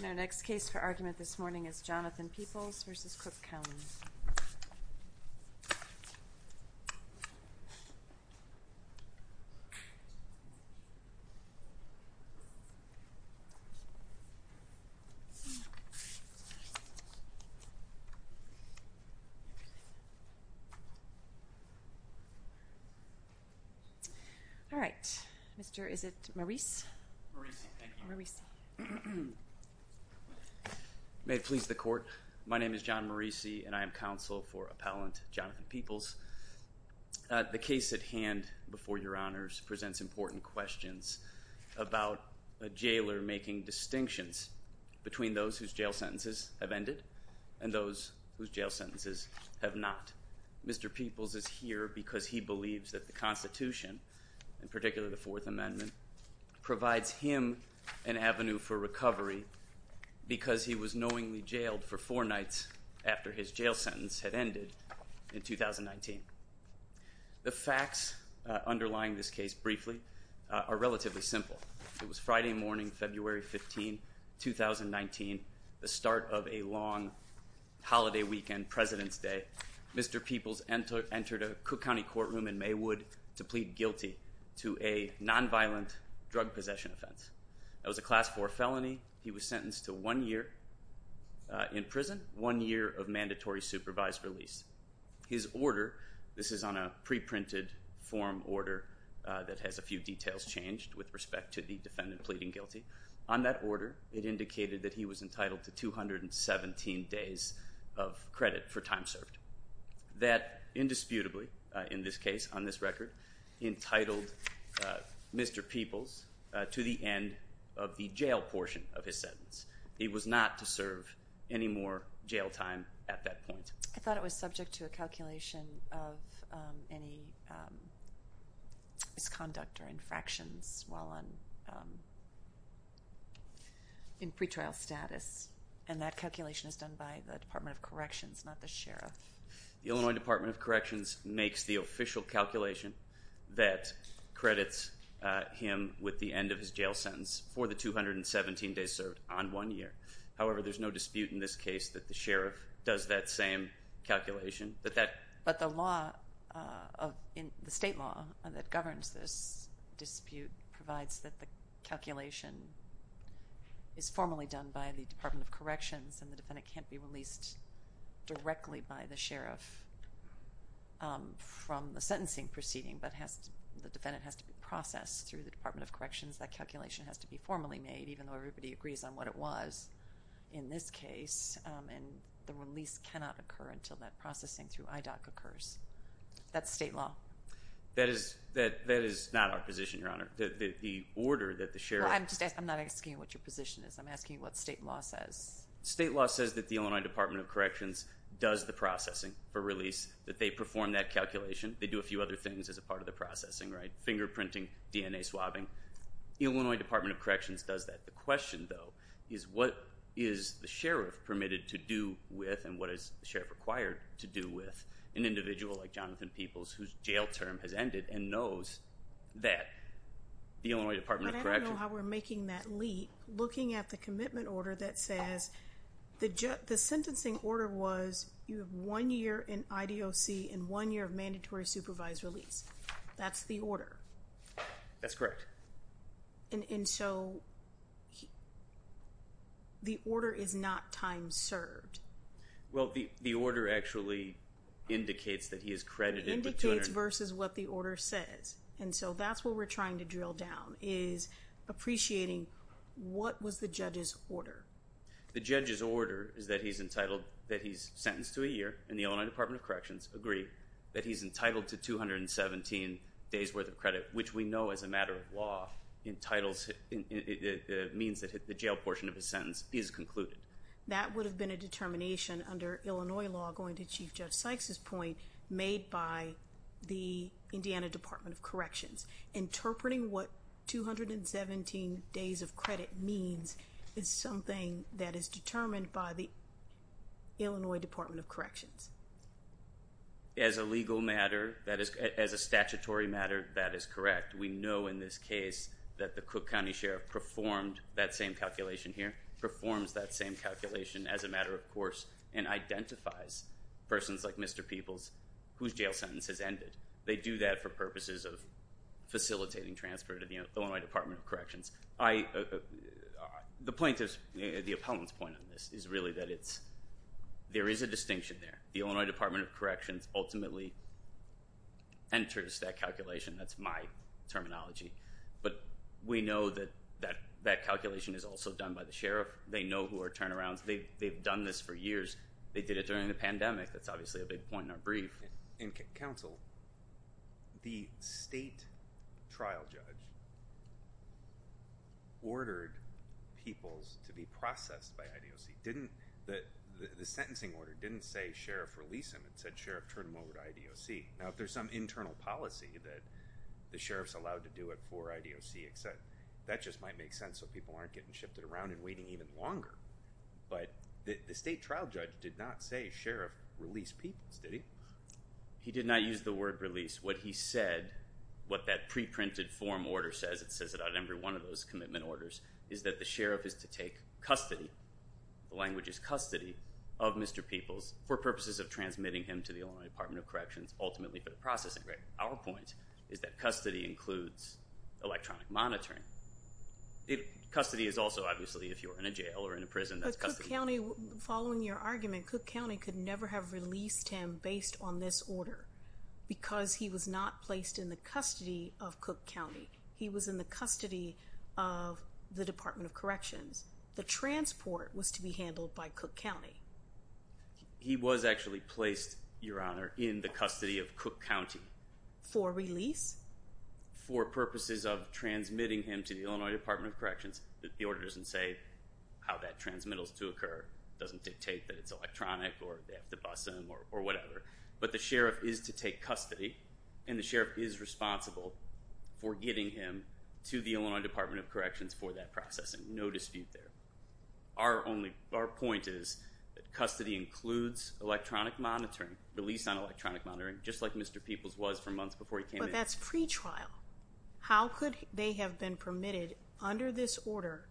In our next case for argument this morning is Jonathan Peoples v. Cook County. May it please the Court, my name is Jon Marisi and I am counsel for appellant Jonathan Peoples. The case at hand before your honors presents important questions about a jailer making distinctions between those whose jail sentences have ended and those whose jail sentences have not. Mr. Peoples is here because he believes that the Constitution, in particular the Fourth Amendment, provides him an avenue for recovery because he was knowingly jailed for four nights after his jail sentence had ended in 2019. The facts underlying this case briefly are relatively simple. It was Friday morning, February 15, 2019, the start of a long holiday weekend, President's Day. Mr. Peoples entered a Cook County courtroom in Maywood to plead guilty to a nonviolent drug possession offense. That was a class 4 felony. He was sentenced to one year in prison, one year of mandatory supervised release. His order, this is on a pre-printed form order that has a few details changed with respect to the defendant pleading guilty, on that order it indicated that he was entitled to 217 days of credit for time served. That indisputably, in this case on this record, entitled Mr. Peoples to the end of the jail portion of his sentence. He was not to serve any more jail time at that point. I thought it was subject to a calculation of any misconduct or infractions while on probation in pretrial status, and that calculation is done by the Department of Corrections, not the Sheriff. The Illinois Department of Corrections makes the official calculation that credits him with the end of his jail sentence for the 217 days served on one year. However there's no dispute in this case that the Sheriff does that same calculation. But the law, the state law that governs this dispute provides that the calculation is formally done by the Department of Corrections and the defendant can't be released directly by the Sheriff from the sentencing proceeding, but the defendant has to be processed through the Department of Corrections. That calculation has to be formally made, even though everybody agrees on what it was in this case, and the release cannot occur until that processing through IDOC occurs. That's state law. That is not our position, Your Honor. The order that the Sheriff... I'm not asking what your position is. I'm asking what state law says. State law says that the Illinois Department of Corrections does the processing for release, that they perform that calculation. They do a few other things as a part of the processing, fingerprinting, DNA swabbing. Illinois Department of Corrections does that. The question though is what is the Sheriff permitted to do with and what is the Sheriff required to do with an individual like Jonathan Peoples whose jail term has ended and knows that the Illinois Department of Corrections... But I don't know how we're making that leap. Looking at the commitment order that says the sentencing order was you have one year in IDOC and one year of mandatory supervised release. That's the order. That's correct. And so the order is not time served. Well, the order actually indicates that he is credited with 200... It indicates versus what the order says, and so that's what we're trying to drill down is appreciating what was the judge's order. The judge's order is that he's entitled, that he's sentenced to a year, and the Illinois Department of Corrections has 217 days worth of credit, which we know as a matter of law means that the jail portion of his sentence is concluded. That would have been a determination under Illinois law going to Chief Judge Sykes' point made by the Indiana Department of Corrections. Interpreting what 217 days of credit means is something that is determined by the Illinois Department of Corrections. As a legal matter, as a statutory matter, that is correct. We know in this case that the Cook County Sheriff performed that same calculation here, performs that same calculation as a matter of course, and identifies persons like Mr. Peoples whose jail sentence has ended. They do that for purposes of facilitating transfer to the Illinois Department of Corrections. The plaintiff's, the appellant's point on this is really that it's there is a distinction there. The Illinois Department of Corrections ultimately enters that calculation. That's my terminology. But we know that that calculation is also done by the sheriff. They know who are turnarounds. They've done this for years. They did it during the pandemic. That's obviously a big point in our brief. In counsel, the state trial judge ordered Peoples to be processed by IDOC. The sentencing order didn't say sheriff release him. It said sheriff turn him over to IDOC. Now if there's some internal policy that the sheriff's allowed to do it for IDOC, that just might make sense so people aren't getting shifted around and waiting even longer. But the state trial judge did not say sheriff release Peoples, did he? He did not use the word release. What he said, what that pre-printed form order says, it says it on every one of those commitment orders, is that the sheriff is to take custody, the language is custody, of Mr. Peoples for purposes of transmitting him to the Illinois Department of Corrections ultimately for the processing. Our point is that custody includes electronic monitoring. Custody is also, obviously if you're in a jail or in a prison, that's custody. But Cook County, following your argument, Cook County could never have released him based on this order because he was not placed in the custody of Cook County. He was in the Department of Corrections. The transport was to be handled by Cook County. He was actually placed, Your Honor, in the custody of Cook County. For release? For purposes of transmitting him to the Illinois Department of Corrections. The order doesn't say how that transmittal is to occur. It doesn't dictate that it's electronic or they have to bus him or whatever. But the sheriff is to take custody and the sheriff is responsible for getting him to the Illinois Department of Corrections for that processing. No dispute there. Our point is that custody includes electronic monitoring, release on electronic monitoring, just like Mr. Peoples was for months before he came in. But that's pretrial. How could they have been permitted under this order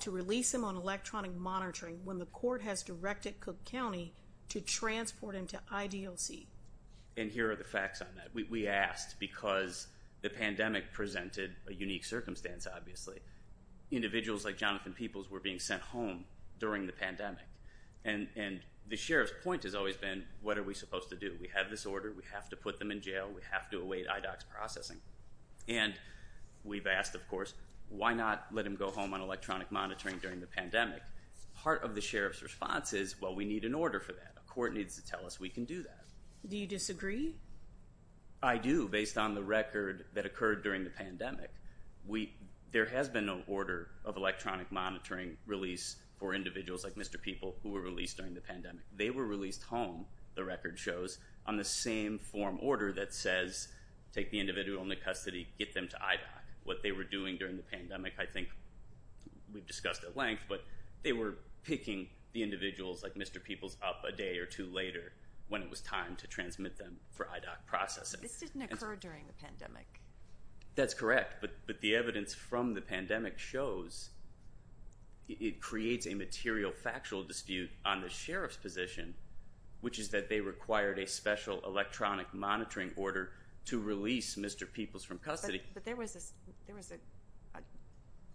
to release him on electronic monitoring when the court has directed Cook County to transport him to IDLC? And here are the facts on that. We asked because the pandemic presented a unique circumstance, obviously. Individuals like Jonathan Peoples were being sent home during the pandemic. And the sheriff's point has always been, what are we supposed to do? We have this order. We have to put them in jail. We have to await IDOC's processing. And we've asked, of course, why not let him go home on electronic monitoring during the pandemic? Part of the sheriff's response is, well, we need an order for that. A court needs to tell us we can do that. Do you disagree? I do, based on the record that occurred during the pandemic. There has been no order of electronic monitoring release for individuals like Mr. Peoples who were released during the pandemic. They were released home, the record shows, on the same form order that says take the individual into custody, get them to IDOC. What they were doing during the pandemic, I think we've discussed at length, but they were picking the individuals like Mr. Peoples up a day or two later when it was time to transmit them for IDOC processing. This didn't occur during the pandemic. That's correct, but the evidence from the pandemic shows it creates a material factual dispute on the sheriff's position, which is that they required a special electronic monitoring order to release Mr. Peoples from custody. But there was a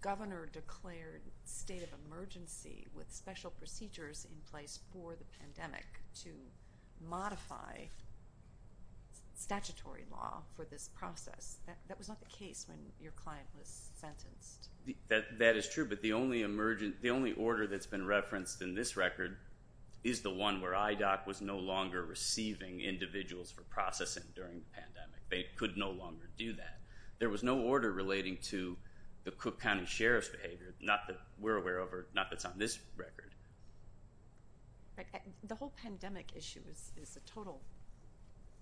governor-declared state of emergency with special procedures in place for the pandemic to modify statutory law for this process. That was not the case when your client was sentenced. That is true, but the only order that's been referenced in this record is the one where IDOC was no longer receiving individuals for processing during the pandemic. They could no longer do that. There was no order relating to the Cook County Sheriff's behavior, not that we're aware of or not that's on this record. The whole pandemic issue is a total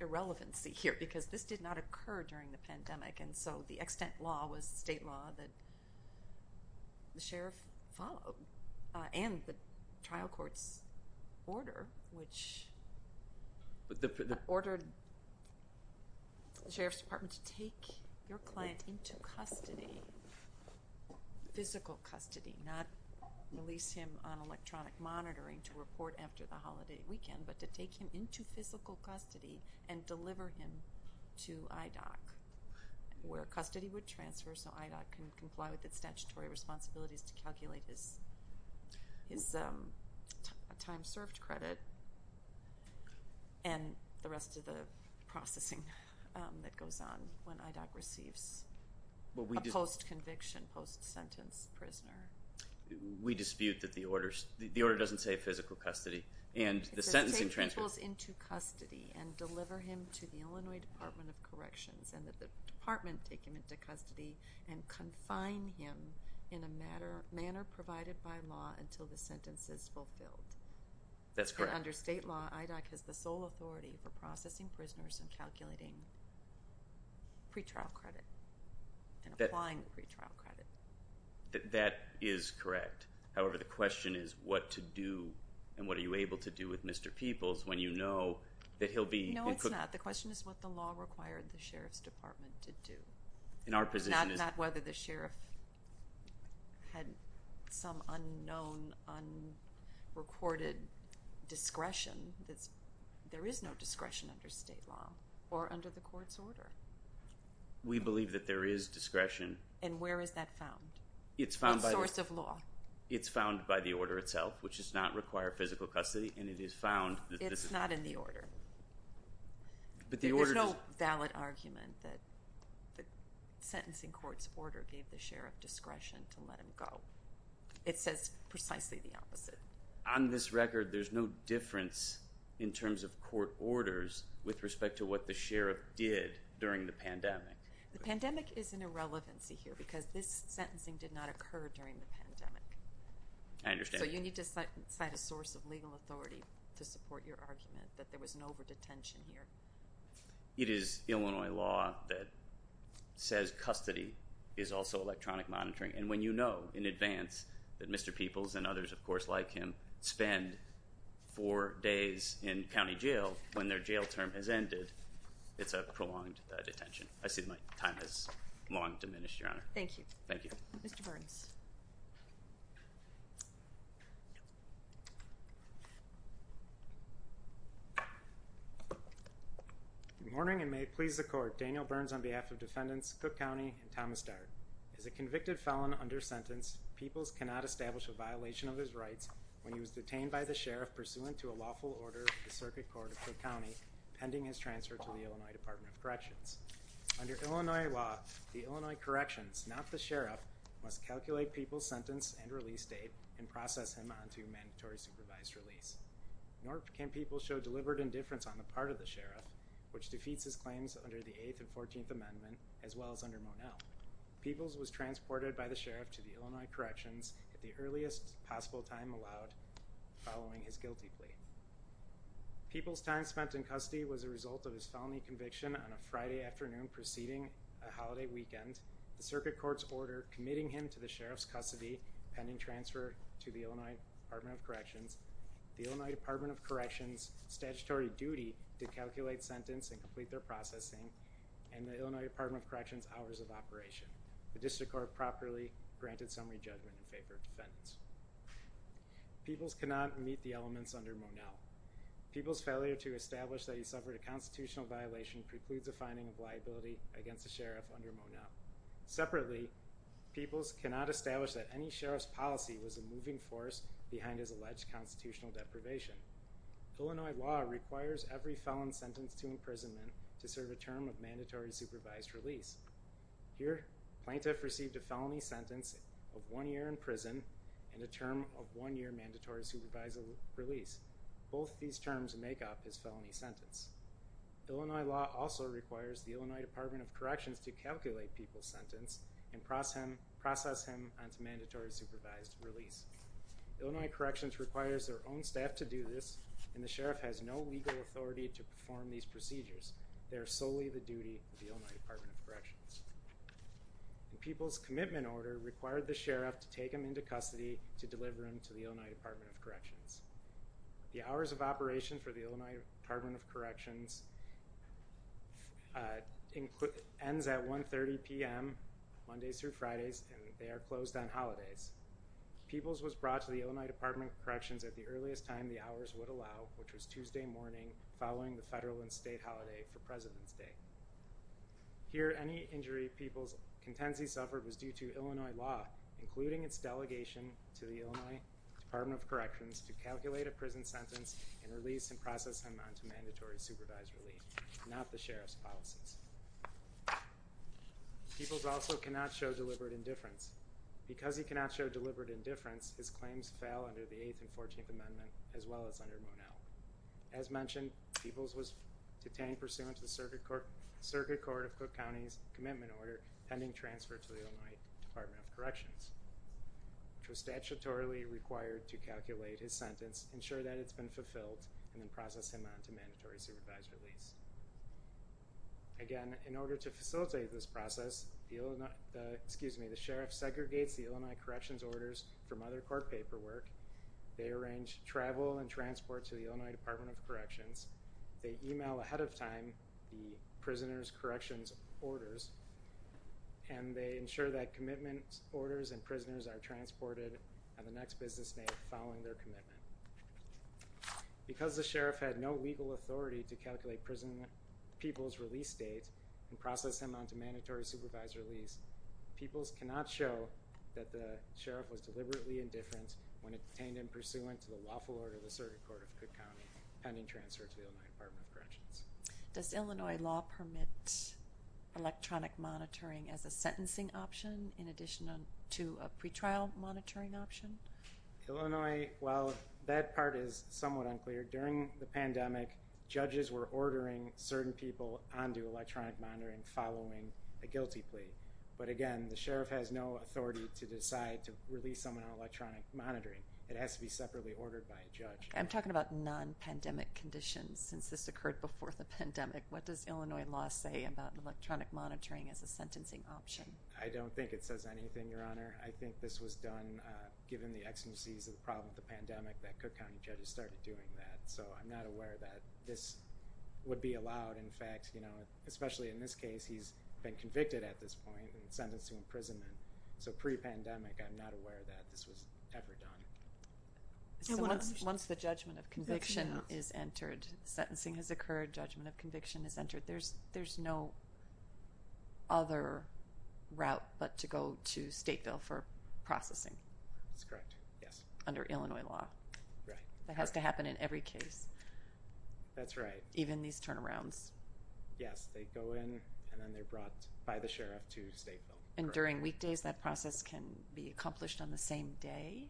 irrelevancy here, because this did not occur during the pandemic, and so the extent law was state law that the sheriff followed, and the trial court's order, which ordered the sheriff's department to take your client into custody, physical custody, not release him on electronic monitoring to report after the holiday weekend, but to take him into physical custody and deliver him to IDOC, where custody would transfer so IDOC can comply with its statutory responsibilities to calculate his time served credit and the rest of the processing that goes on when IDOC receives a post-conviction, post-sentence prisoner. We dispute that the order doesn't say physical custody. It says take people into custody and deliver him to the Illinois Department of Corrections, and that the department take him into custody and confine him in a manner provided by law until the sentence is fulfilled. That's correct. Under state law, IDOC has the sole authority for processing prisoners and calculating pretrial credit and applying pretrial credit. That is correct. However, the question is what to do and what are you able to do with Mr. Peoples when you know that he'll be... No, it's not. The question is what the law required the sheriff's department to do. Not whether the sheriff had some unknown, unrecorded discretion that's... There is no discretion under state law or under the court's I believe that there is discretion. And where is that found? It's found by the order itself, which does not require physical custody and it is found... It's not in the order. There's no valid argument that the sentencing court's order gave the sheriff discretion to let him go. It says precisely the opposite. On this record, there's no difference in terms of court orders with respect to what the sheriff did during the pandemic. The pandemic is an irrelevancy here because this sentencing did not occur during the pandemic. I understand. So you need to cite a source of legal authority to support your argument that there was an over-detention here. It is Illinois law that says custody is also electronic monitoring and when you know in advance that Mr. Peoples and others of course like him spend four days in county jail when their jail term has prolonged detention. I see my time has long diminished, Your Honor. Thank you. Mr. Burns. Good morning and may it please the court. Daniel Burns on behalf of defendants Cook County and Thomas Dart. As a convicted felon under sentence, Peoples cannot establish a violation of his rights when he was detained by the sheriff pursuant to a lawful order of the Circuit Court of Cook County pending his transfer to the Illinois Department of Corrections. Under Illinois law the Illinois Corrections, not the sheriff, must calculate Peoples' sentence and release date and process him onto mandatory supervised release. Nor can Peoples show deliberate indifference on the part of the sheriff which defeats his claims under the 8th and 14th Amendment as well as under Monell. Peoples was transported by the sheriff to the Illinois Corrections at the earliest possible time allowed following his guilty plea. Peoples' time spent in custody was a result of his felony conviction on a Friday afternoon preceding a holiday weekend. The Circuit Court's order committing him to the sheriff's custody pending transfer to the Illinois Department of Corrections, the Illinois Department of Corrections statutory duty to calculate sentence and complete their processing and the Illinois Department of Corrections hours of operation. The District Court properly granted summary judgment in favor of defendants. Peoples cannot meet the elements under Monell. Peoples' failure to establish that he suffered a constitutional violation precludes a finding of liability against the sheriff under Monell. Separately, Peoples cannot establish that any sheriff's policy was a moving force behind his alleged constitutional deprivation. Illinois law requires every felon sentenced to imprisonment to serve a term of mandatory supervised release. Here, plaintiff received a felony sentence of one year in prison and a term of one year mandatory supervised release. Both these terms make up his felony sentence. Illinois law also requires the Illinois Department of Corrections to calculate Peoples' sentence and process him onto mandatory supervised release. Illinois Corrections requires their own staff to do this and the sheriff has no legal authority to perform these procedures. They are solely the duty of the Illinois Department of Corrections. Peoples' commitment order required the sheriff to take him into custody to deliver him to the Illinois Department of Corrections. The hours of operation for the Illinois Department of Corrections ends at 1.30 p.m. Mondays through Fridays and they are closed on holidays. Peoples was brought to the Illinois Department of Corrections at the earliest time the hours would allow, which was Tuesday morning following the federal and state holiday for President's Day. Here, any injury Peoples contends he suffered was due to Illinois law, including its delegation to the Illinois Department of Corrections to calculate a prison sentence and release and process him onto mandatory supervised release, not the sheriff's policies. Peoples also cannot show deliberate indifference. Because he cannot show deliberate indifference, his claims fail under the 8th and 14th Amendment as well as under Monell. As mentioned, Peoples was detained pursuant to the Circuit Court of Cook County's commitment order pending transfer to the Illinois Department of Corrections, which was statutorily required to calculate his sentence, ensure that it's been fulfilled, and then process him onto mandatory supervised release. Again, in order to facilitate this process, the sheriff segregates the Illinois corrections orders from other court paperwork, they arrange travel and transport to the Illinois Department of Corrections, they email ahead of time the prisoner's corrections orders, and they ensure that commitment orders and prisoners are transported on the next business day following their commitment. Because the sheriff had no legal authority to calculate Peoples' release date and process him onto mandatory supervised release, Peoples cannot show that the sheriff was deliberately indifferent when detained pursuant to the lawful order of the Circuit Court of Cook County pending transfer to the Illinois Department of Corrections. Does Illinois law permit electronic monitoring as a sentencing option in addition to a pretrial monitoring option? Illinois, while that part is somewhat unclear, during the pandemic, judges were ordering certain people onto electronic monitoring following a guilty plea. But again, the sheriff has no authority to decide to release someone on electronic monitoring. It has to be about non-pandemic conditions. Since this occurred before the pandemic, what does Illinois law say about electronic monitoring as a sentencing option? I don't think it says anything, Your Honor. I think this was done given the exigencies of the problem of the pandemic that Cook County judges started doing that. So I'm not aware that this would be allowed. In fact, especially in this case, he's been convicted at this point and sentenced to imprisonment. So pre-pandemic, I'm not aware that this was ever done. Once the judgment of conviction is entered, sentencing has occurred, judgment of conviction has entered, there's no other route but to go to Stateville for processing. That's correct, yes. Under Illinois law. That has to happen in every case. That's right. Even these turnarounds. Yes, they go in and then they're brought by the sheriff to Stateville. And during weekdays, that process can be accomplished on the same day?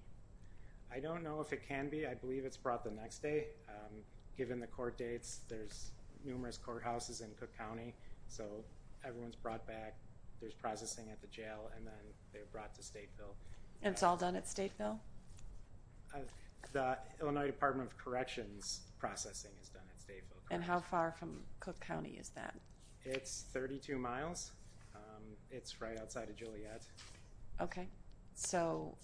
I don't know if it can be. I believe it's brought the next day. Given the court dates, there's numerous courthouses in Cook County. So everyone's brought back, there's processing at the jail and then they're brought to Stateville. And it's all done at Stateville? The Illinois Department of Corrections processing is done at Stateville. And how far from Cook County is that? It's 32 miles. It's right outside of Juliette. Okay. So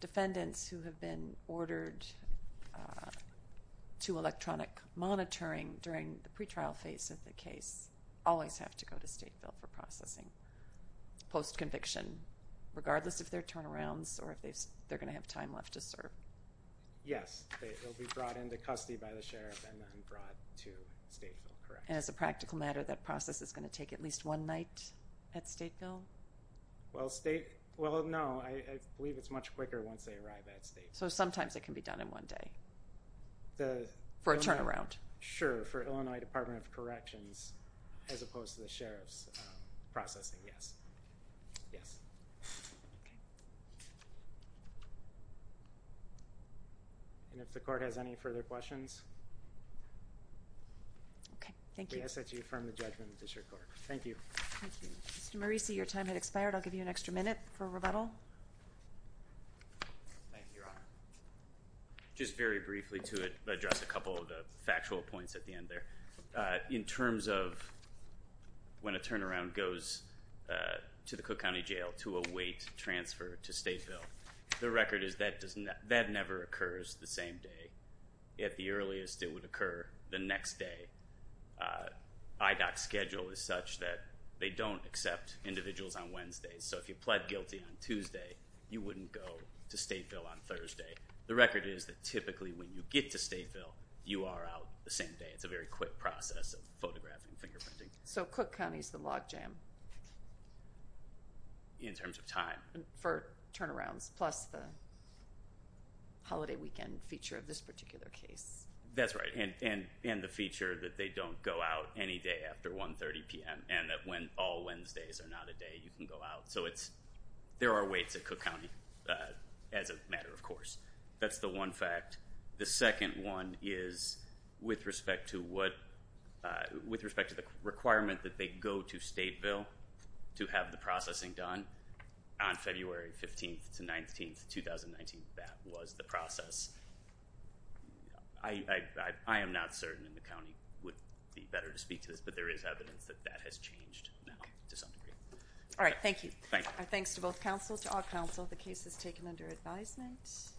defendants who have been ordered to electronic monitoring during the pretrial phase of the case always have to go to Stateville for processing post-conviction regardless of their turnarounds or if they're going to have time left to serve. Yes. They'll be brought into custody by the sheriff and then brought to Stateville, correct. And as a practical matter, that process is going to take at least one night at Stateville? Well, no. I believe it's much quicker once they arrive at Stateville. So sometimes it can be done in one day? For a turnaround? Sure. For Illinois Department of Corrections as opposed to the sheriff's processing. Yes. And if the court has any further questions? Okay. Thank you. Thank you. Mr. Marisi, your time has expired. I'll give you an extra minute for rebuttal. Thank you, Your Honor. Just very briefly to address a couple of factual points at the end there. In terms of when a turnaround goes to the Cook County Jail to await transfer to Stateville, the record is that never occurs the same day. At the earliest, it would occur the next day. IDOC's schedule is such that they don't accept individuals on Wednesdays. So if you pled guilty on Tuesday, you wouldn't go to Stateville on Thursday. The record is that typically when you get to Stateville, you are out the same day. It's a very quick process of photographing, fingerprinting. So Cook County is the log jam? In terms of time? For turnarounds. Plus the holiday weekend feature of this particular case. That's right. And the feature that they don't go out any day after 1.30 p.m. and that all Wednesdays are not a day you can go out. So there are waits at Cook County as a matter of course. That's the one fact. The second one is with respect to the requirement that they go to Stateville to have the processing done on February 15th to 19th, 2019. That was the process. I am not certain that the County would be better to speak to this, but there is evidence that that has changed to some degree. Alright, thank you. Thanks to both Councils, to all Councils. The case is taken under advisement.